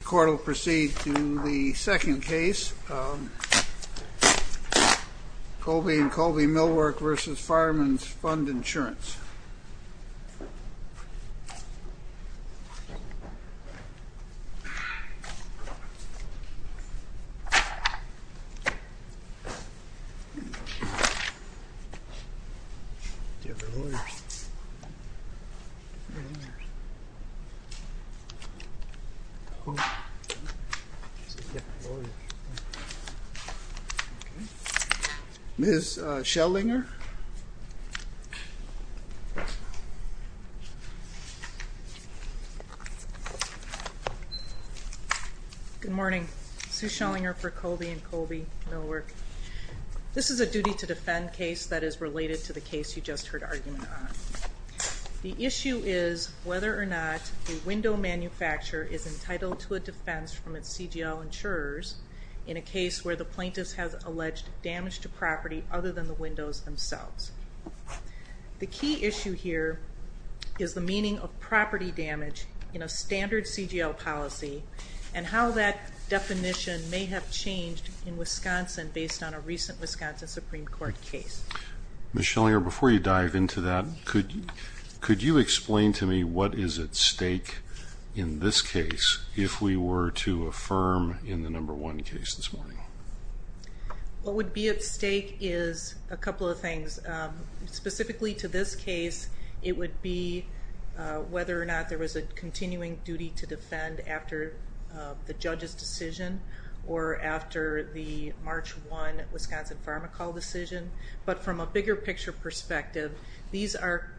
The court will proceed to the second case, Kolbe & Kolbe Millwork v. Fireman's Fund Insurance. Ms. Schellinger Good morning. Sue Schellinger for Kolbe & Kolbe Millwork. This is a duty to defend case that is related to the case you just heard argument on. The issue is whether or not a window manufacturer is entitled to a defense from its CGL insurers in a case where the plaintiff has alleged damage to property other than the windows themselves. The key issue here is the meaning of property damage in a standard CGL policy and how that definition may have changed in Wisconsin based on a recent Wisconsin Supreme Court case. Ms. Schellinger, before you dive into that, could you explain to me what is at stake in this case if we were to affirm in the number one case this morning? What would be at stake is a couple of things. Specifically to this case, it would be whether or not there was a continuing duty to defend after the judge's decision or after the March 1 Wisconsin Pharma Call decision. But from a bigger picture perspective, these are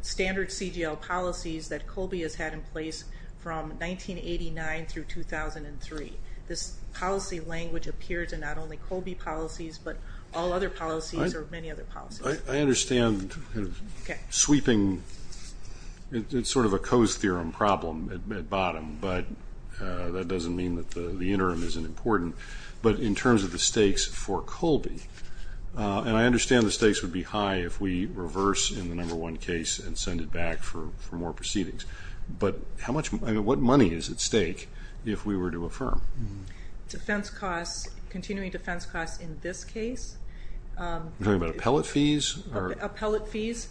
standard CGL policies that Kolbe has had in place from 1989 through 2003. This policy language appears in not only Kolbe policies, but all other policies or many other policies. I understand sweeping. It's sort of a Coase theorem problem at bottom, but that doesn't mean that the interim isn't important. But in terms of the stakes for Kolbe, and I understand the stakes would be high if we reverse in the number one case and send it back for more proceedings. But what money is at stake if we were to affirm? Defense costs, continuing defense costs in this case. Are you talking about appellate fees? Appellate fees,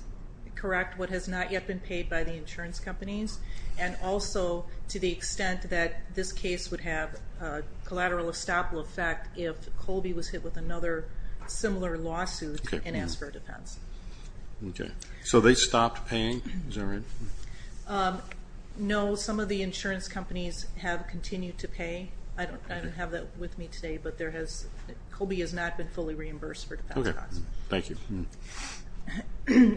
correct, what has not yet been paid by the insurance companies. And also to the extent that this case would have a collateral estoppel effect if Kolbe was hit with another similar lawsuit and asked for a defense. Okay, so they stopped paying? Is that right? No, some of the insurance companies have continued to pay. I don't have that with me today, but Kolbe has not been fully reimbursed for defense costs. Okay, thank you.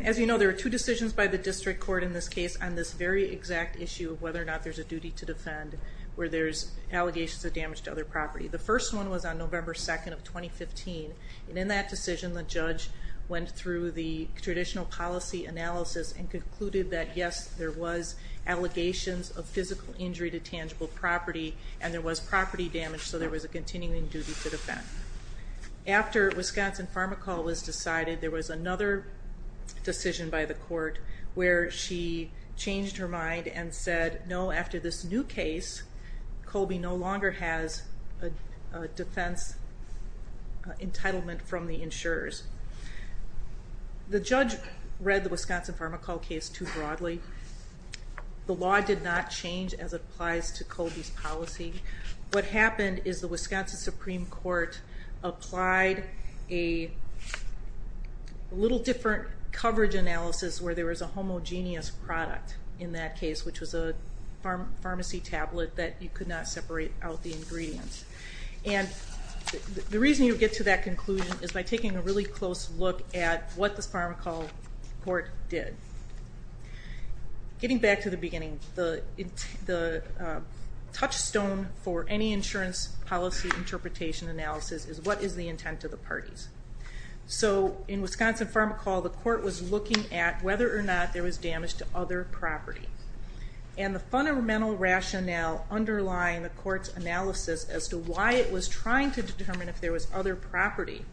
As you know, there are two decisions by the district court in this case on this very exact issue of whether or not there's a duty to defend where there's allegations of damage to other property. The first one was on November 2nd of 2015. And in that decision, the judge went through the traditional policy analysis and concluded that, yes, there was allegations of physical injury to tangible property and there was property damage, so there was a continuing duty to defend. After Wisconsin Pharmacol was decided, there was another decision by the court where she changed her mind and said, no, after this new case, Kolbe no longer has a defense entitlement from the insurers. The judge read the Wisconsin Pharmacol case too broadly. The law did not change as it applies to Kolbe's policy. What happened is the Wisconsin Supreme Court applied a little different coverage analysis where there was a homogeneous product in that case, which was a pharmacy tablet that you could not separate out the ingredients. And the reason you get to that conclusion is by taking a really close look at what the Pharmacol court did. Getting back to the beginning, the touchstone for any insurance policy interpretation analysis is what is the intent of the parties. So in Wisconsin Pharmacol, the court was looking at whether or not there was damage to other property. And the fundamental rationale underlying the court's analysis as to why it was trying to determine if there was other property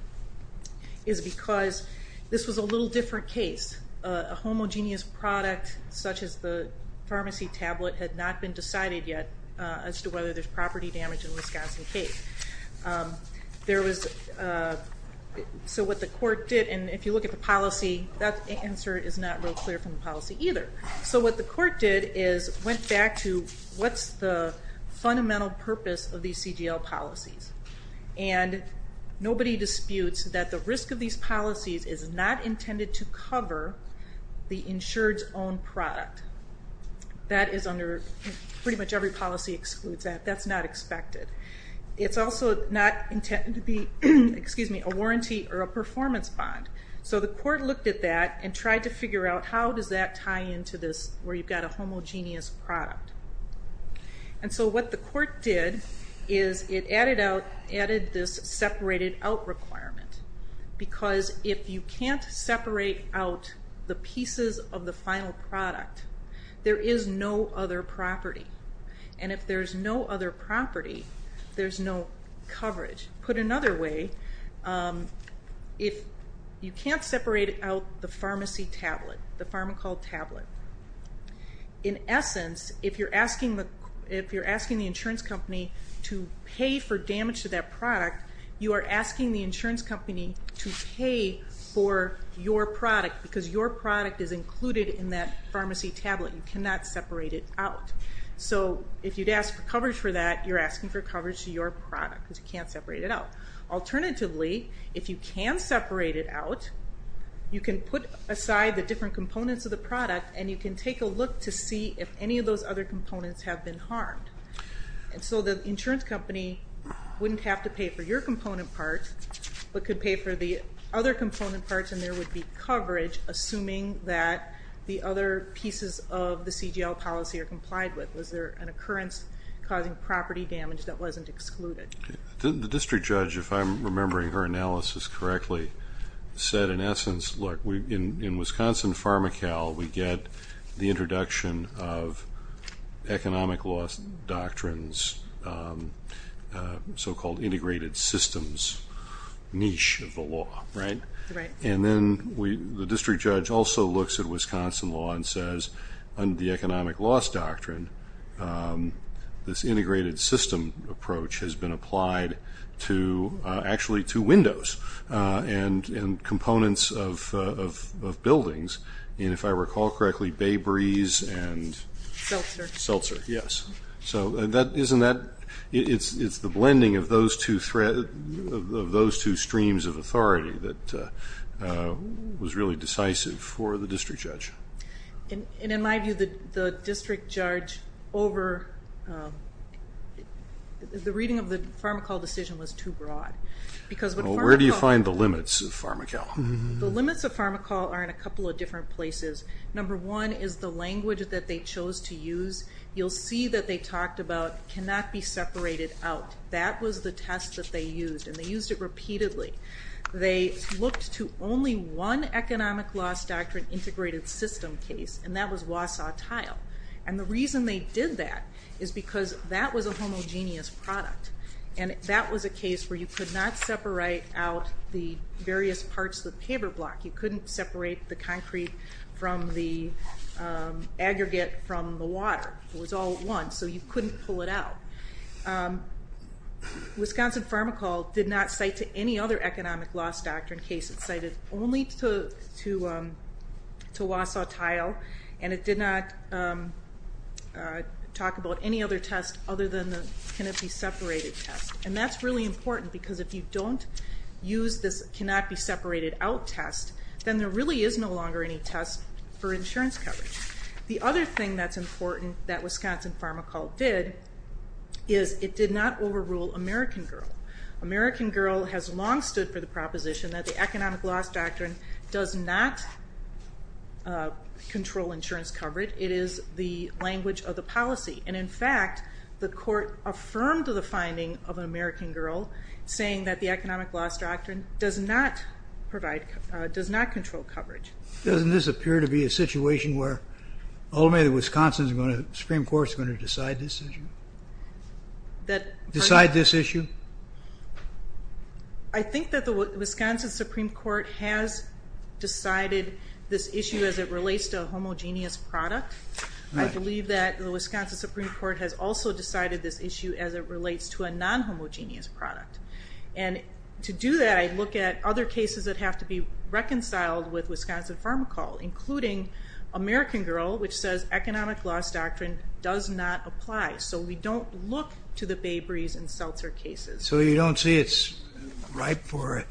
is because this was a little different case. A homogeneous product such as the pharmacy tablet had not been decided yet as to whether there's property damage in the Wisconsin case. So what the court did, and if you look at the policy, that answer is not real clear from the policy either. So what the court did is went back to what's the fundamental purpose of these CGL policies. And nobody disputes that the risk of these policies is not intended to cover the insured's own product. That is under pretty much every policy excludes that. That's not expected. It's also not intended to be a warranty or a performance bond. So the court looked at that and tried to figure out how does that tie into this where you've got a homogeneous product. And so what the court did is it added this separated out requirement because if you can't separate out the pieces of the final product, there is no other property. And if there's no other property, there's no coverage. Put another way, if you can't separate out the pharmacy tablet, the pharmacal tablet, in essence, if you're asking the insurance company to pay for damage to that product, you are asking the insurance company to pay for your product because your product is included in that pharmacy tablet. You cannot separate it out. So if you'd ask for coverage for that, you're asking for coverage to your product because you can't separate it out. Alternatively, if you can separate it out, you can put aside the different components of the product and you can take a look to see if any of those other components have been harmed. And so the insurance company wouldn't have to pay for your component parts but could pay for the other component parts and there would be coverage assuming that the other pieces of the CGL policy are complied with. Was there an occurrence causing property damage that wasn't excluded? The district judge, if I'm remembering her analysis correctly, said in essence, look, in Wisconsin Pharmacal, we get the introduction of economic loss doctrines, so-called integrated systems niche of the law, right? Right. And then the district judge also looks at Wisconsin law and says under the economic loss doctrine, this integrated system approach has been applied to actually to windows and components of buildings. And if I recall correctly, Bay Breeze and Seltzer, yes. So isn't that the blending of those two streams of authority that was really decisive for the district judge. And in my view, the district judge over the reading of the Pharmacal decision was too broad. Where do you find the limits of Pharmacal? The limits of Pharmacal are in a couple of different places. Number one is the language that they chose to use. You'll see that they talked about cannot be separated out. That was the test that they used, and they used it repeatedly. They looked to only one economic loss doctrine integrated system case, and that was Wausau Tile. And the reason they did that is because that was a homogeneous product, and that was a case where you could not separate out the various parts of the paper block. You couldn't separate the concrete from the aggregate from the water. It was all one, so you couldn't pull it out. Wisconsin Pharmacal did not cite to any other economic loss doctrine case. It cited only to Wausau Tile, and it did not talk about any other test other than the cannot be separated test. And that's really important because if you don't use this cannot be separated out test, then there really is no longer any test for insurance coverage. The other thing that's important that Wisconsin Pharmacal did is it did not overrule American Girl. American Girl has long stood for the proposition that the economic loss doctrine does not control insurance coverage. It is the language of the policy. And, in fact, the court affirmed the finding of American Girl, saying that the economic loss doctrine does not control coverage. Doesn't this appear to be a situation where ultimately the Wisconsin Supreme Court is going to decide this issue? Decide this issue? I think that the Wisconsin Supreme Court has decided this issue as it relates to a homogeneous product. I believe that the Wisconsin Supreme Court has also decided this issue as it relates to a non-homogeneous product. And to do that, I look at other cases that have to be reconciled with Wisconsin Pharmacal, including American Girl, which says economic loss doctrine does not apply. So we don't look to the Bay Breeze and Seltzer cases. So you don't see it's ripe for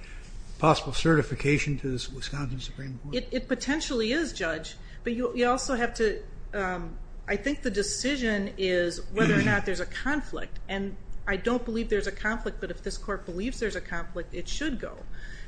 possible certification to the Wisconsin Supreme Court? It potentially is, Judge. But you also have to, I think the decision is whether or not there's a conflict. And I don't believe there's a conflict. But if this court believes there's a conflict, it should go.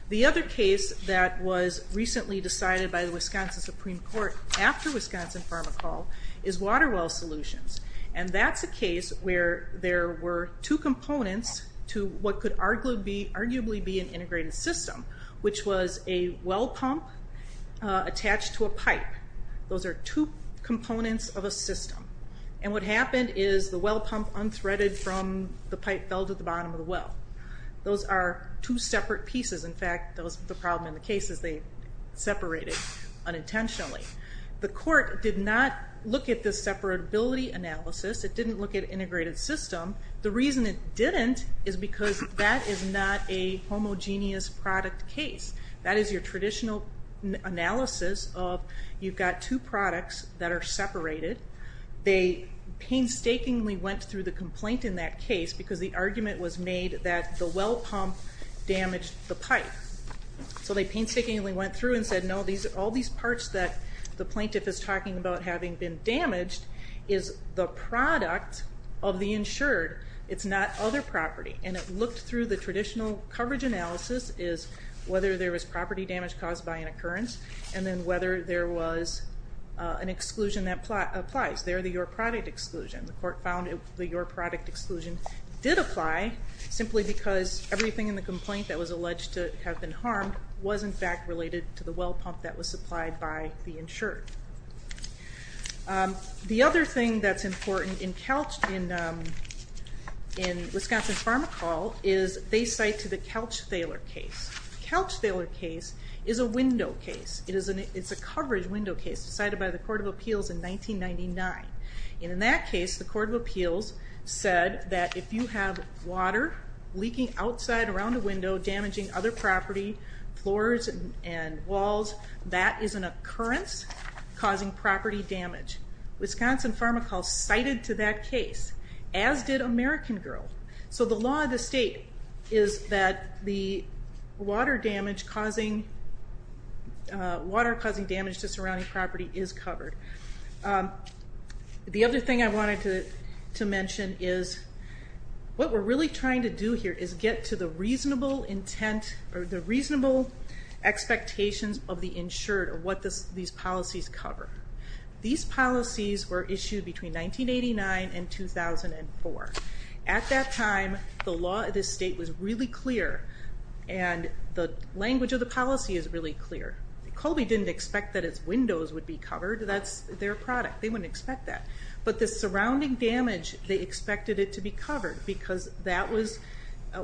The other case that was recently decided by the Wisconsin Supreme Court after Wisconsin Pharmacal is Water Well Solutions. And that's a case where there were two components to what could arguably be an integrated system, which was a well pump attached to a pipe. Those are two components of a system. And what happened is the well pump unthreaded from the pipe fell to the bottom of the well. Those are two separate pieces. In fact, the problem in the case is they separated unintentionally. The court did not look at the separability analysis. It didn't look at integrated system. The reason it didn't is because that is not a homogeneous product case. That is your traditional analysis of you've got two products that are separated. They painstakingly went through the complaint in that case because the well pump damaged the pipe. So they painstakingly went through and said, no, all these parts that the plaintiff is talking about having been damaged is the product of the insured. It's not other property. And it looked through the traditional coverage analysis, is whether there was property damage caused by an occurrence, and then whether there was an exclusion that applies. They're the your product exclusion. The court found the your product exclusion did apply simply because everything in the complaint that was alleged to have been harmed was, in fact, related to the well pump that was supplied by the insured. The other thing that's important in Wisconsin Pharmacol is they cite to the Couch-Thaler case. Couch-Thaler case is a window case. It's a coverage window case cited by the Court of Appeals in 1999. And in that case, the Court of Appeals said that if you have water leaking outside around a window damaging other property, floors and walls, that is an occurrence causing property damage. Wisconsin Pharmacol cited to that case, as did American Girl. So the law of the state is that the water damage causing to surrounding property is covered. The other thing I wanted to mention is what we're really trying to do here is get to the reasonable intent or the reasonable expectations of the insured or what these policies cover. These policies were issued between 1989 and 2004. At that time, the law of the state was really clear, and the language of the policy is really clear. Colby didn't expect that its windows would be covered. That's their product. They wouldn't expect that. But the surrounding damage, they expected it to be covered, because that was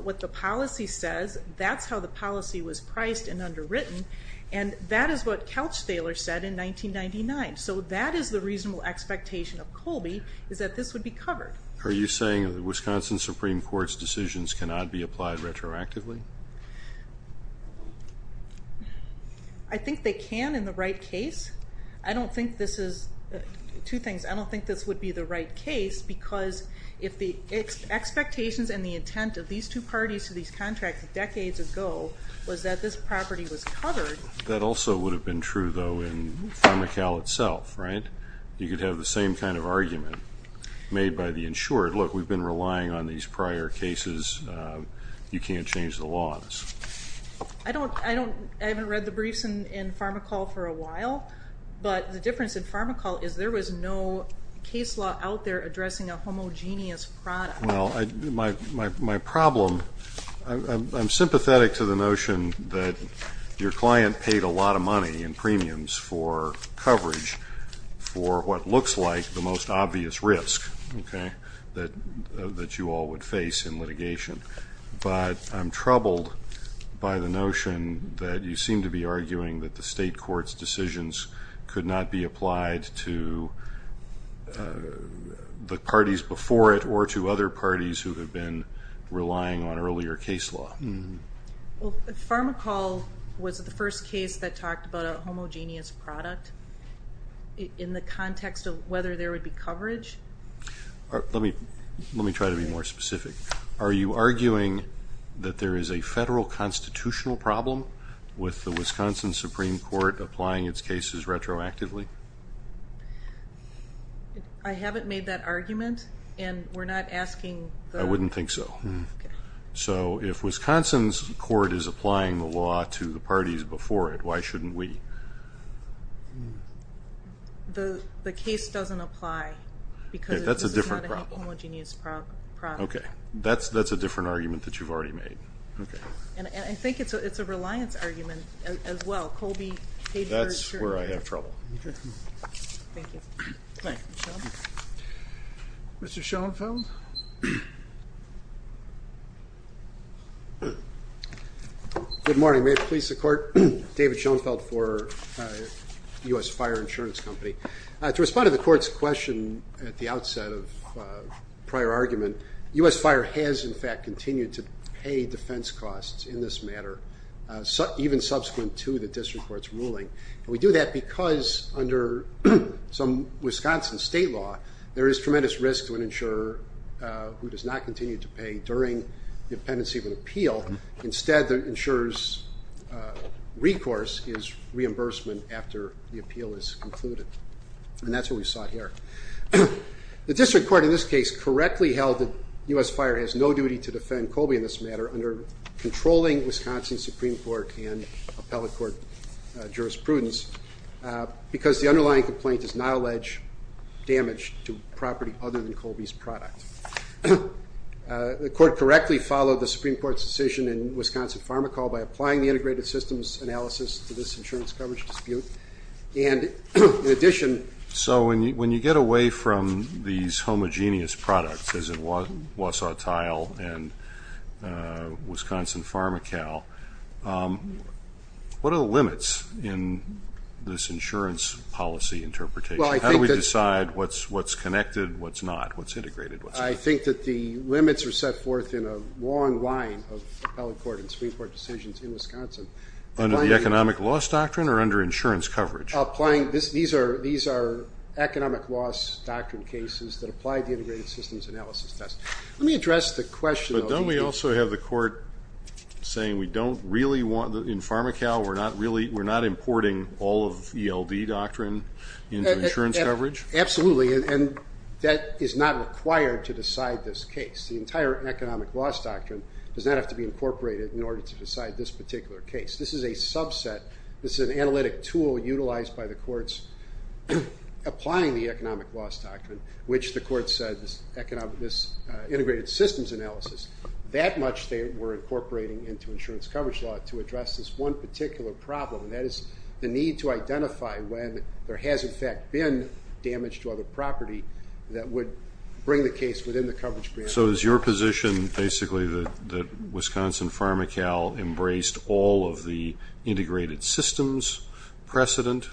what the policy says. That's how the policy was priced and underwritten. And that is what Couch-Thaler said in 1999. So that is the reasonable expectation of Colby, is that this would be covered. Are you saying the Wisconsin Supreme Court's decisions cannot be applied retroactively? I think they can in the right case. Two things, I don't think this would be the right case, because if the expectations and the intent of these two parties to these contracts decades ago was that this property was covered. That also would have been true, though, in Pharmacal itself, right? You could have the same kind of argument made by the insured. Look, we've been relying on these prior cases. You can't change the law. I haven't read the briefs in Pharmacal for a while, but the difference in Pharmacal is there was no case law out there addressing a homogeneous product. Well, my problem, I'm sympathetic to the notion that your client paid a lot of money in premiums for coverage for what looks like the most obvious risk that you all would face in litigation. But I'm troubled by the notion that you seem to be arguing that the state court's decisions could not be applied to the parties before it or to other parties who have been relying on earlier case law. Well, Pharmacal was the first case that talked about a homogeneous product in the context of whether there would be coverage. Let me try to be more specific. Are you arguing that there is a federal constitutional problem with the Wisconsin Supreme Court applying its cases retroactively? I haven't made that argument, and we're not asking the ---- I wouldn't think so. So if Wisconsin's court is applying the law to the parties before it, why shouldn't we? The case doesn't apply because this is not a homogeneous product. Okay. That's a different argument that you've already made. Okay. And I think it's a reliance argument as well. Colby paid for it. That's where I have trouble. Okay. Thank you. Thank you. Mr. Schoenfeld? Good morning. May it please the Court? David Schoenfeld for U.S. Fire Insurance Company. To respond to the Court's question at the outset of prior argument, U.S. Fire has, in fact, continued to pay defense costs in this matter, even subsequent to the district court's ruling. And we do that because under some Wisconsin state law, there is tremendous risk to an insurer who does not continue to pay during the appendix of an appeal. Instead, the insurer's recourse is reimbursement after the appeal is concluded. And that's what we saw here. The district court in this case correctly held that U.S. Fire has no duty to defend Colby in this matter under controlling Wisconsin Supreme Court and appellate court jurisprudence because the underlying complaint does not allege damage to property other than Colby's product. The Court correctly followed the Supreme Court's decision in Wisconsin Pharmacol by applying the integrated systems analysis to this insurance coverage dispute. So when you get away from these homogeneous products, as in Wausau Tile and Wisconsin Pharmacol, what are the limits in this insurance policy interpretation? How do we decide what's connected, what's not, what's integrated? I think that the limits are set forth in a long line of appellate court and Supreme Court decisions in Wisconsin. Under the economic loss doctrine or under insurance coverage? These are economic loss doctrine cases that apply the integrated systems analysis test. Let me address the question. But don't we also have the court saying we don't really want, in Pharmacol, we're not importing all of ELD doctrine into insurance coverage? Absolutely. And that is not required to decide this case. The entire economic loss doctrine does not have to be incorporated in order to decide this particular case. This is a subset. This is an analytic tool utilized by the courts applying the economic loss doctrine, which the court said this integrated systems analysis. That much they were incorporating into insurance coverage law to address this one particular problem, and that is the need to identify when there has, in fact, been damage to other property that would bring the case within the coverage. So is your position basically that Wisconsin Pharmacol embraced all of the integrated systems precedent?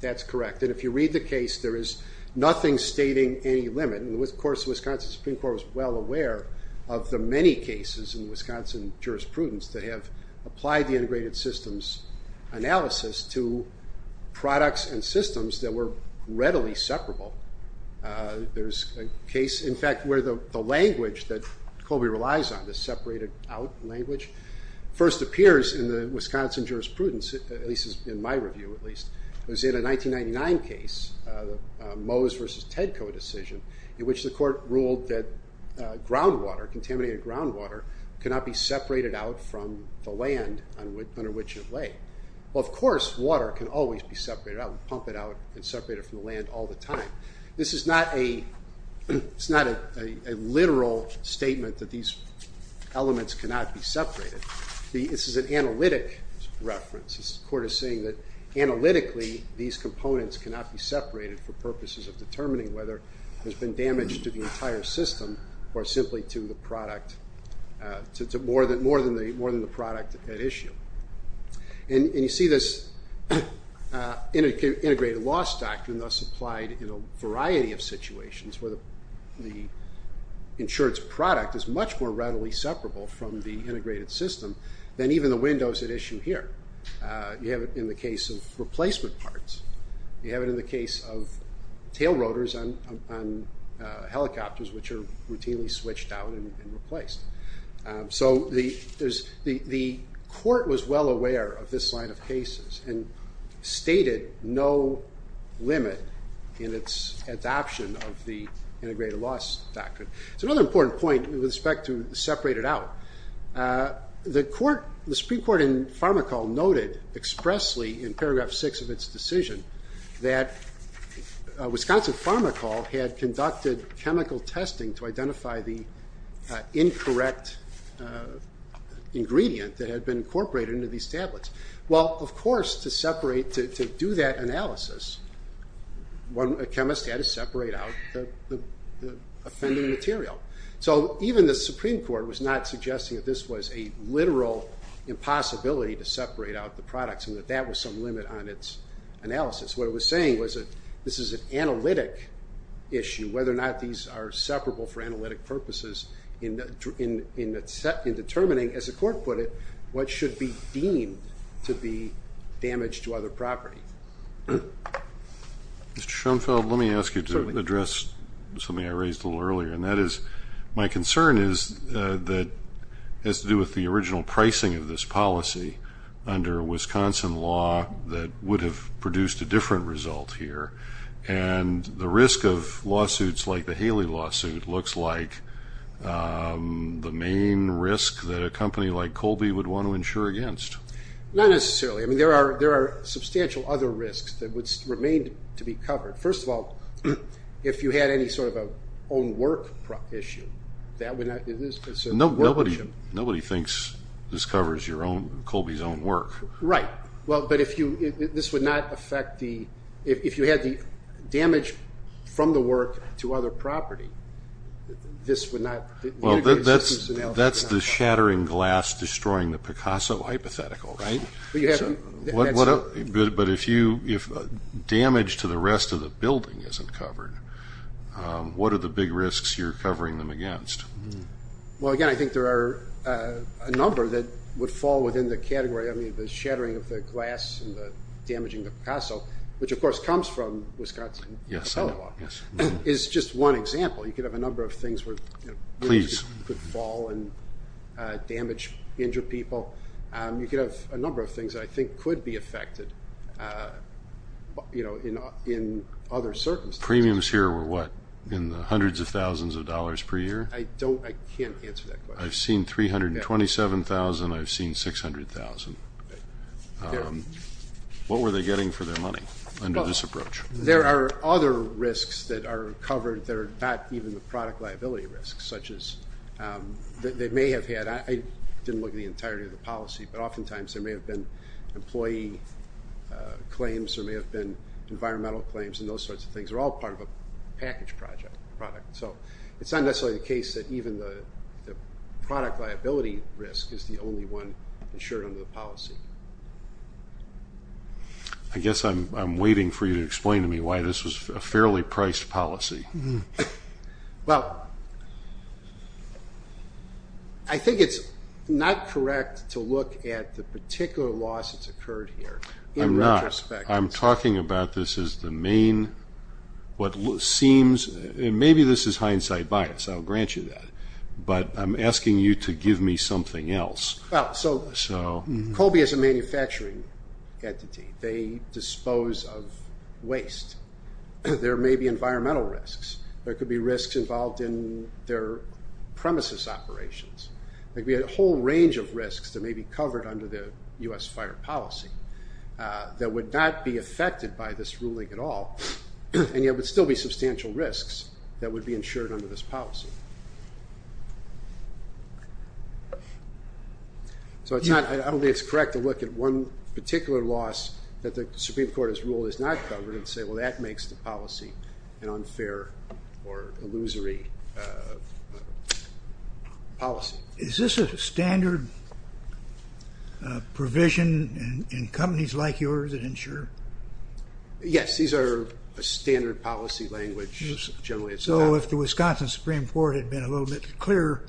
That's correct. And if you read the case, there is nothing stating any limit. And, of course, the Wisconsin Supreme Court was well aware of the many cases in Wisconsin jurisprudence that have applied the integrated systems analysis to products and systems that were readily separable. There's a case, in fact, where the language that Colby relies on, the separated out language, first appears in the Wisconsin jurisprudence, at least in my review, at least. It was in a 1999 case, the Mose versus Tedco decision, in which the court ruled that groundwater, contaminated groundwater, cannot be separated out from the land under which it lay. Well, of course, water can always be separated out. You can't pump it out and separate it from the land all the time. This is not a literal statement that these elements cannot be separated. This is an analytic reference. The court is saying that analytically these components cannot be separated for purposes of determining whether there's been damage to the entire system or simply to the product, more than the product at issue. You see this integrated loss doctrine thus applied in a variety of situations where the insured's product is much more readily separable from the integrated system than even the windows at issue here. You have it in the case of replacement parts. You have it in the case of tail rotors on helicopters, which are routinely switched out and replaced. The court was well aware of this line of cases and stated no limit in its adoption of the integrated loss doctrine. Another important point with respect to separate it out, the Supreme Court in Farmacol noted expressly in paragraph six of its decision that Wisconsin Farmacol had conducted chemical testing to identify the incorrect ingredient that had been incorporated into these tablets. Well, of course, to separate, to do that analysis, a chemist had to separate out the offending material. So even the Supreme Court was not suggesting that this was a literal impossibility to separate out the products and that that was some limit on its analysis. What it was saying was that this is an analytic issue, whether or not these are separable for analytic purposes in determining, as the court put it, what should be deemed to be damaged to other property. Mr. Schoenfeld, let me ask you to address something I raised a little earlier, and that is my concern is that it has to do with the original pricing of this policy under Wisconsin law that would have produced a different result here, and the risk of lawsuits like the Haley lawsuit looks like the main risk that a company like Kolbe would want to insure against. Not necessarily. I mean, there are substantial other risks that would remain to be covered. First of all, if you had any sort of an own work issue, that would not be considered a work issue. Nobody thinks this covers Kolbe's own work. Right. Well, but if you – this would not affect the – if you had the damage from the work to other property, this would not – Well, that's the shattering glass destroying the Picasso hypothetical, right? Well, you have to – But if you – if damage to the rest of the building isn't covered, what are the big risks you're covering them against? Well, again, I think there are a number that would fall within the category, I mean, the shattering of the glass and the damaging of Picasso, which, of course, comes from Wisconsin law, is just one example. You could have a number of things where – Please. Could fall and damage injured people. You could have a number of things I think could be affected in other circumstances. Premiums here were what, in the hundreds of thousands of dollars per year? I don't – I can't answer that question. I've seen 327,000. I've seen 600,000. What were they getting for their money under this approach? There are other risks that are covered that are not even the product liability risks, such as they may have had – I didn't look at the entirety of the policy, but oftentimes there may have been employee claims. There may have been environmental claims and those sorts of things. They're all part of a package product. So it's not necessarily the case that even the product liability risk is the only one insured under the policy. I guess I'm waiting for you to explain to me why this was a fairly priced policy. Well, I think it's not correct to look at the particular loss that's occurred here. I'm not. I'm talking about this as the main – what seems – and maybe this is hindsight bias. I'll grant you that. But I'm asking you to give me something else. Well, so Colby is a manufacturing entity. They dispose of waste. There may be environmental risks. There could be risks involved in their premises operations. We had a whole range of risks that may be covered under the U.S. fire policy that would not be affected by this ruling at all, and yet would still be substantial risks that would be insured under this policy. So I don't think it's correct to look at one particular loss that the Supreme Court has ruled is not covered and say, well, that makes the policy an unfair or illusory policy. Is this a standard provision in companies like yours that insure? Yes, these are a standard policy language generally. So if the Wisconsin Supreme Court had been a little bit clearer,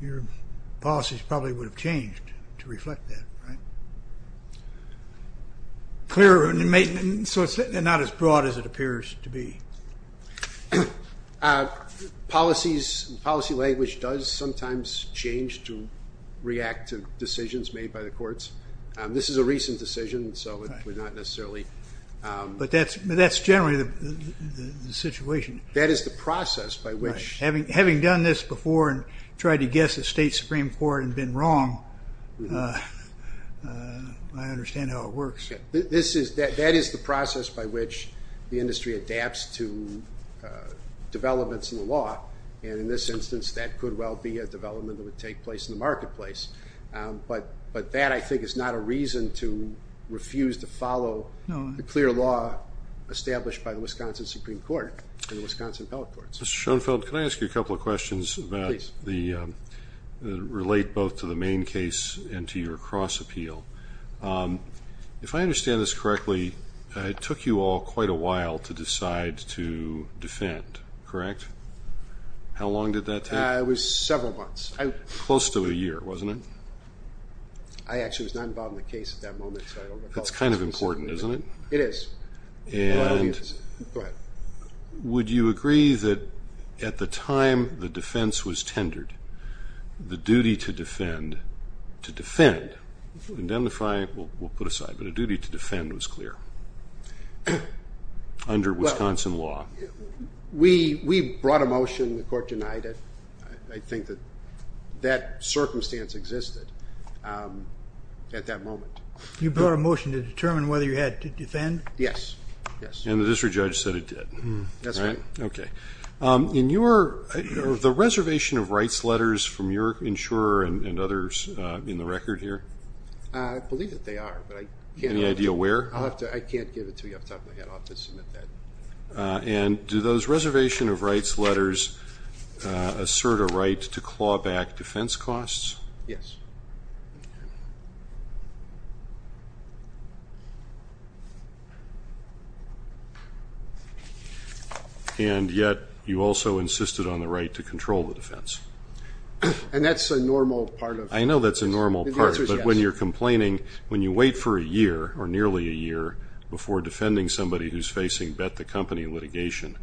your policies probably would have changed to reflect that, right? Clearer, so it's not as broad as it appears to be. Policies, policy language does sometimes change to react to decisions made by the courts. This is a recent decision, so it would not necessarily. But that's generally the situation. That is the process by which. Having done this before and tried to guess the state Supreme Court and been wrong, I understand how it works. That is the process by which the industry adapts to developments in the law, and in this instance that could well be a development that would take place in the marketplace. But that, I think, is not a reason to refuse to follow the clear law established by the Wisconsin Supreme Court and the Wisconsin Appellate Courts. Mr. Schoenfeld, can I ask you a couple of questions that relate both to the main case and to your cross-appeal? If I understand this correctly, it took you all quite a while to decide to defend, correct? How long did that take? It was several months. Close to a year, wasn't it? I actually was not involved in the case at that moment, so I don't recall. That's kind of important, isn't it? It is. And would you agree that at the time the defense was tendered, the duty to defend, to defend, to identify, we'll put aside, but a duty to defend was clear under Wisconsin law. We brought a motion. The court denied it. I think that that circumstance existed at that moment. You brought a motion to determine whether you had to defend? Yes, yes. And the district judge said it did, right? That's right. Okay. In your, the reservation of rights letters from your insurer and others in the record here? I believe that they are, but I can't. Any idea where? I can't give it to you. I'll have to submit that. And do those reservation of rights letters assert a right to claw back defense costs? Yes. And yet you also insisted on the right to control the defense. And that's a normal part of it. I know that's a normal part, but when you're complaining, when you wait for a year, or nearly a year, before defending somebody who's facing bet-the-company litigation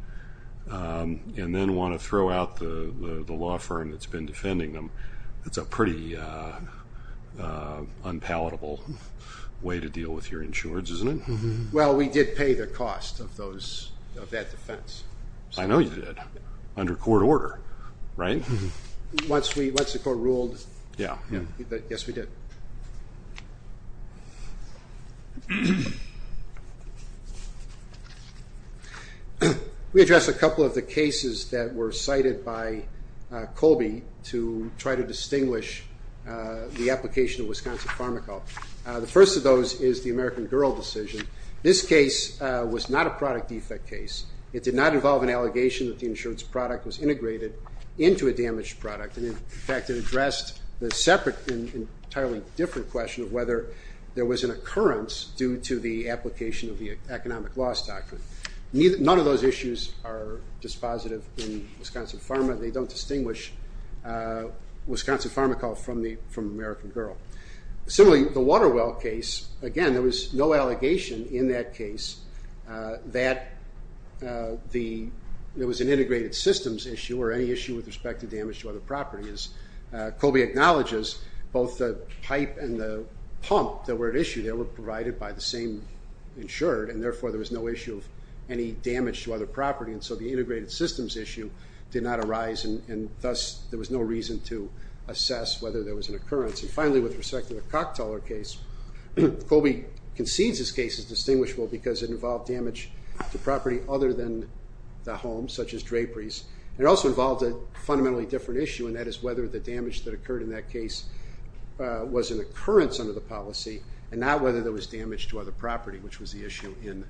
and then want to throw out the law firm that's been defending them, that's a pretty unpalatable way to deal with your insurers, isn't it? Well, we did pay the cost of that defense. I know you did, under court order, right? Once the court ruled, yes, we did. We addressed a couple of the cases that were cited by Colby to try to distinguish the application of Wisconsin PharmaCorp. The first of those is the American Girl decision. This case was not a product defect case. It did not involve an allegation that the insurance product was integrated into a damaged product. In fact, it addressed the separate and entirely different question of whether there was an occurrence due to the application of the economic loss doctrine. None of those issues are dispositive in Wisconsin Pharma. They don't distinguish Wisconsin PharmaCorp from American Girl. Similarly, the Waterwell case, again, there was no allegation in that case that there was an integrated systems issue or any issue with respect to damage to other properties. Colby acknowledges both the pipe and the pump that were at issue. They were provided by the same insurer, and therefore there was no issue of any damage to other property, and so the integrated systems issue did not arise, and thus there was no reason to assess whether there was an occurrence. And finally, with respect to the Cocktailer case, Colby concedes this case is distinguishable because it involved damage to property other than the home, such as draperies. It also involved a fundamentally different issue, and that is whether the damage that occurred in that case was an occurrence under the policy and not whether there was damage to other property, which was the issue in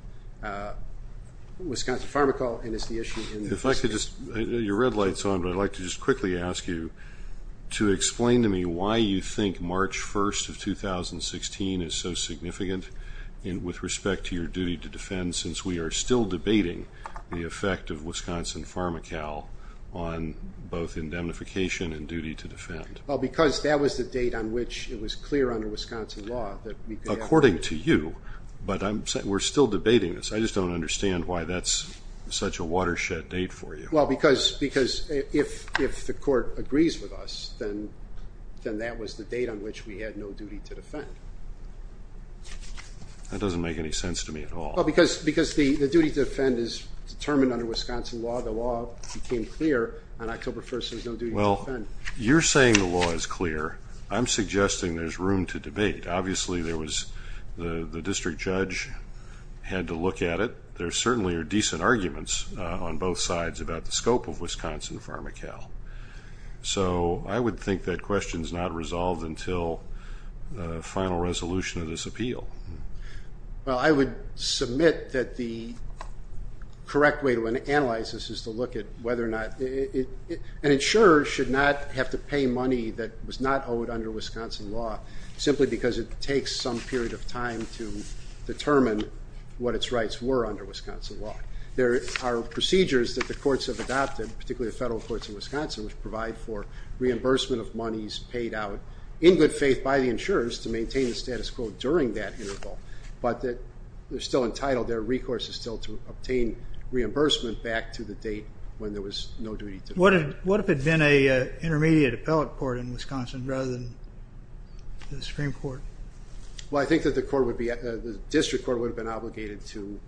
Wisconsin PharmaCorp and is the issue in this case. If I could just, your red light's on, but I'd like to just quickly ask you to explain to me why you think March 1st of 2016 is so significant with respect to your duty to defend since we are still debating the effect of Wisconsin PharmaCal on both indemnification and duty to defend. Well, because that was the date on which it was clear under Wisconsin law that we could have a... According to you, but we're still debating this. I just don't understand why that's such a watershed date for you. Well, because if the court agrees with us, then that was the date on which we had no duty to defend. That doesn't make any sense to me at all. Because the duty to defend is determined under Wisconsin law. The law became clear on October 1st, there was no duty to defend. Well, you're saying the law is clear. I'm suggesting there's room to debate. Obviously, the district judge had to look at it. But there certainly are decent arguments on both sides about the scope of Wisconsin PharmaCal. So I would think that question is not resolved until the final resolution of this appeal. Well, I would submit that the correct way to analyze this is to look at whether or not... An insurer should not have to pay money that was not owed under Wisconsin law simply because it takes some period of time to determine what its rights were under Wisconsin law. There are procedures that the courts have adopted, particularly the federal courts in Wisconsin, which provide for reimbursement of monies paid out in good faith by the insurers to maintain the status quo during that interval, but they're still entitled, their recourse is still to obtain reimbursement back to the date when there was no duty to defend. What if it had been an intermediate appellate court in Wisconsin rather than the Supreme Court? Well, I think that the district court would have been obligated to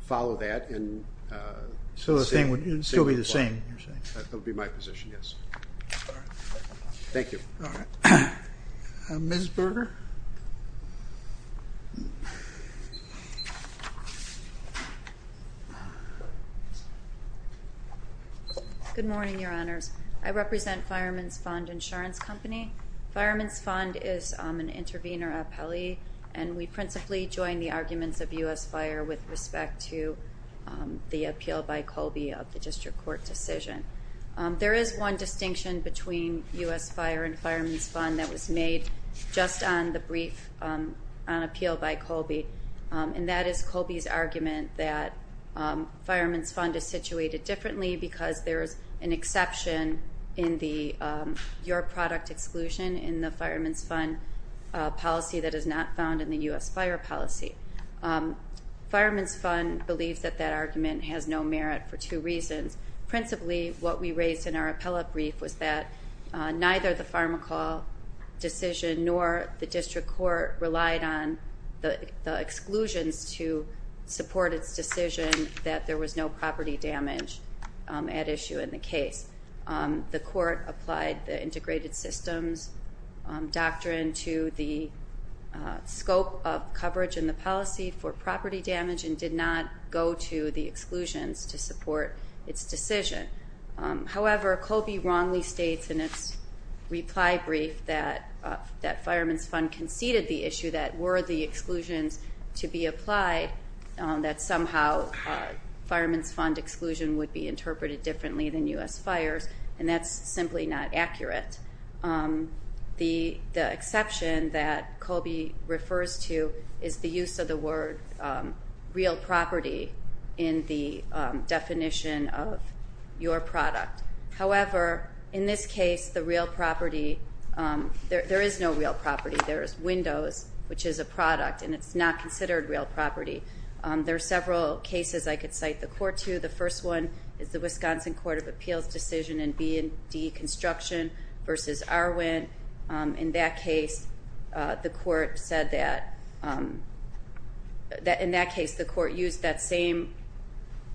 follow that and... So the thing would still be the same, you're saying? That would be my position, yes. All right. Thank you. All right. Ms. Berger? Good morning, Your Honors. I represent Fireman's Fund Insurance Company. Fireman's Fund is an intervener appellee, and we principally join the arguments of U.S. Fire with respect to the appeal by Colby of the district court decision. There is one distinction between U.S. Fire and Fireman's Fund that was made just on the brief on appeal by Colby, and that is Colby's argument that Fireman's Fund is situated differently because there is an exception in your product exclusion in the Fireman's Fund policy that is not found in the U.S. Fire policy. Fireman's Fund believes that that argument has no merit for two reasons. Principally, what we raised in our appellate brief was that neither the pharmacal decision nor the district court relied on the exclusions to support its decision that there was no property damage at issue in the case. The court applied the integrated systems doctrine to the scope of coverage in the policy for property damage and did not go to the exclusions to support its decision. However, Colby wrongly states in its reply brief that Fireman's Fund conceded the issue that were the exclusions to be applied, that somehow Fireman's Fund exclusion would be interpreted differently than U.S. Fires, and that's simply not accurate. The exception that Colby refers to is the use of the word real property in the definition of your product. However, in this case, the real property, there is no real property. There is windows, which is a product, and it's not considered real property. There are several cases I could cite the court to. The first one is the Wisconsin Court of Appeals decision in B&D Construction v. Arwin. In that case, the court used that same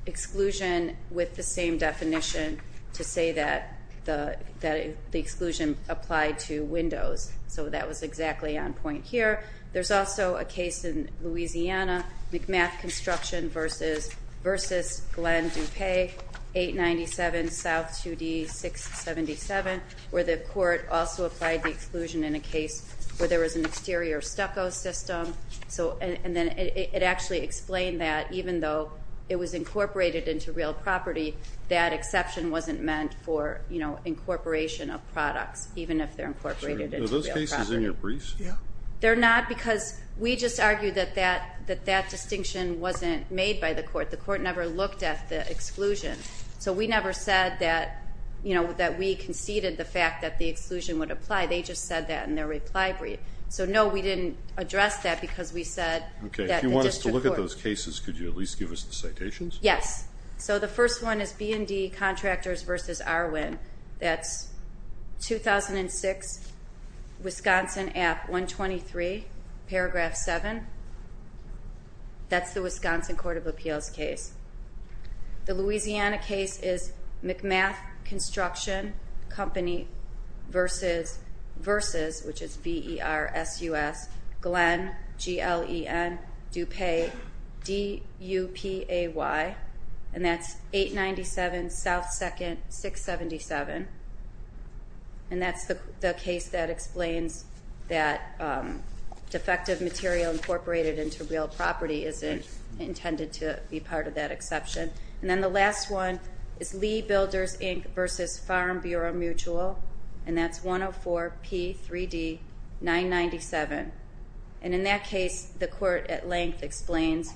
exclusion with the same definition to say that the exclusion applied to windows. So that was exactly on point here. There's also a case in Louisiana, McMath Construction v. Glenn DuPay, 897 South 2D 677, where the court also applied the exclusion in a case where there was an exterior stucco system. And then it actually explained that even though it was incorporated into real property, that exception wasn't meant for incorporation of products, even if they're incorporated into real property. Are those cases in your briefs? They're not because we just argued that that distinction wasn't made by the court. The court never looked at the exclusion. So we never said that we conceded the fact that the exclusion would apply. They just said that in their reply brief. So, no, we didn't address that because we said that the district court. If you want us to look at those cases, could you at least give us the citations? Yes. So the first one is B&D Contractors v. Arwin. That's 2006, Wisconsin Act 123, Paragraph 7. That's the Wisconsin Court of Appeals case. The Louisiana case is McMath Construction Company v. Glenn DuPay, and that's 897 South 2nd, 677. And that's the case that explains that defective material incorporated into real property isn't intended to be part of that exception. And then the last one is Lee Builders, Inc. v. Farm Bureau Mutual, and that's 104P3D997. And in that case, the court at length explains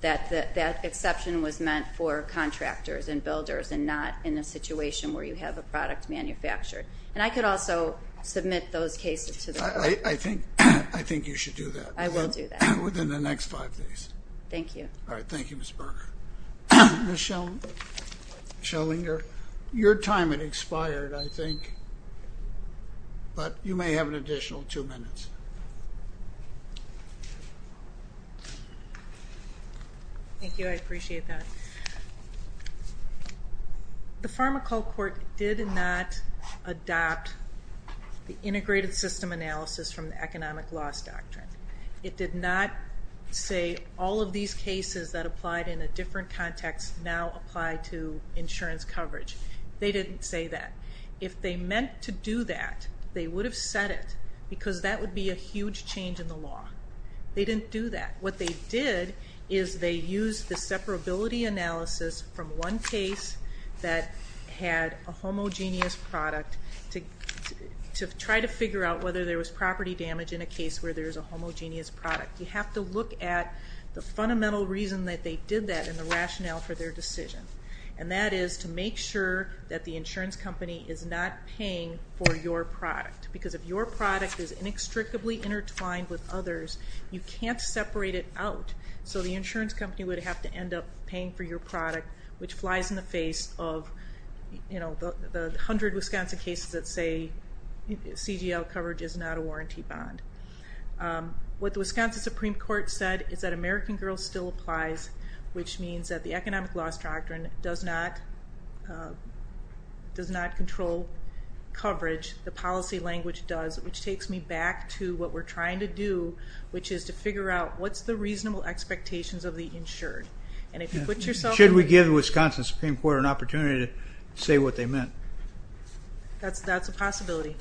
that that exception was meant for contractors and builders and not in a situation where you have a product manufactured. And I could also submit those cases to the court. I think you should do that. I will do that. Within the next five days. Thank you. All right. Thank you, Ms. Berger. Ms. Schellinger, your time had expired, I think, but you may have an additional two minutes. Thank you. I appreciate that. The pharmacal court did not adopt the integrated system analysis from the economic loss doctrine. It did not say all of these cases that applied in a different context now apply to insurance coverage. They didn't say that. If they meant to do that, they would have said it because that would be a huge change in the law. They didn't do that. What they did is they used the separability analysis from one case that had a homogeneous product to try to figure out whether there was property damage in a case where there is a homogeneous product. You have to look at the fundamental reason that they did that and the rationale for their decision. And that is to make sure that the insurance company is not paying for your product. Because if your product is inextricably intertwined with others, you can't separate it out. So the insurance company would have to end up paying for your product, which flies in the face of the hundred Wisconsin cases that say CGL coverage is not a warranty bond. What the Wisconsin Supreme Court said is that American Girl still applies, which means that the economic loss doctrine does not control coverage. The policy language does, which takes me back to what we're trying to do, which is to figure out what's the reasonable expectations of the insured. Should we give the Wisconsin Supreme Court an opportunity to say what they meant? That's a possibility.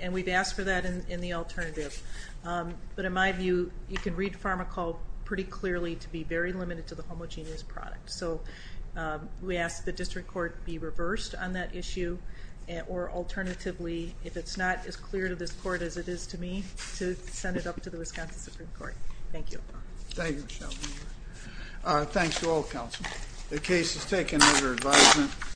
And we've asked for that in the alternative. But in my view, you can read Pharmacol pretty clearly to be very limited to the homogeneous product. So we ask the district court be reversed on that issue, or alternatively, if it's not as clear to this court as it is to me, to send it up to the Wisconsin Supreme Court. Thank you. Thank you, Michelle. Thanks to all counsel. The case is taken under advisement.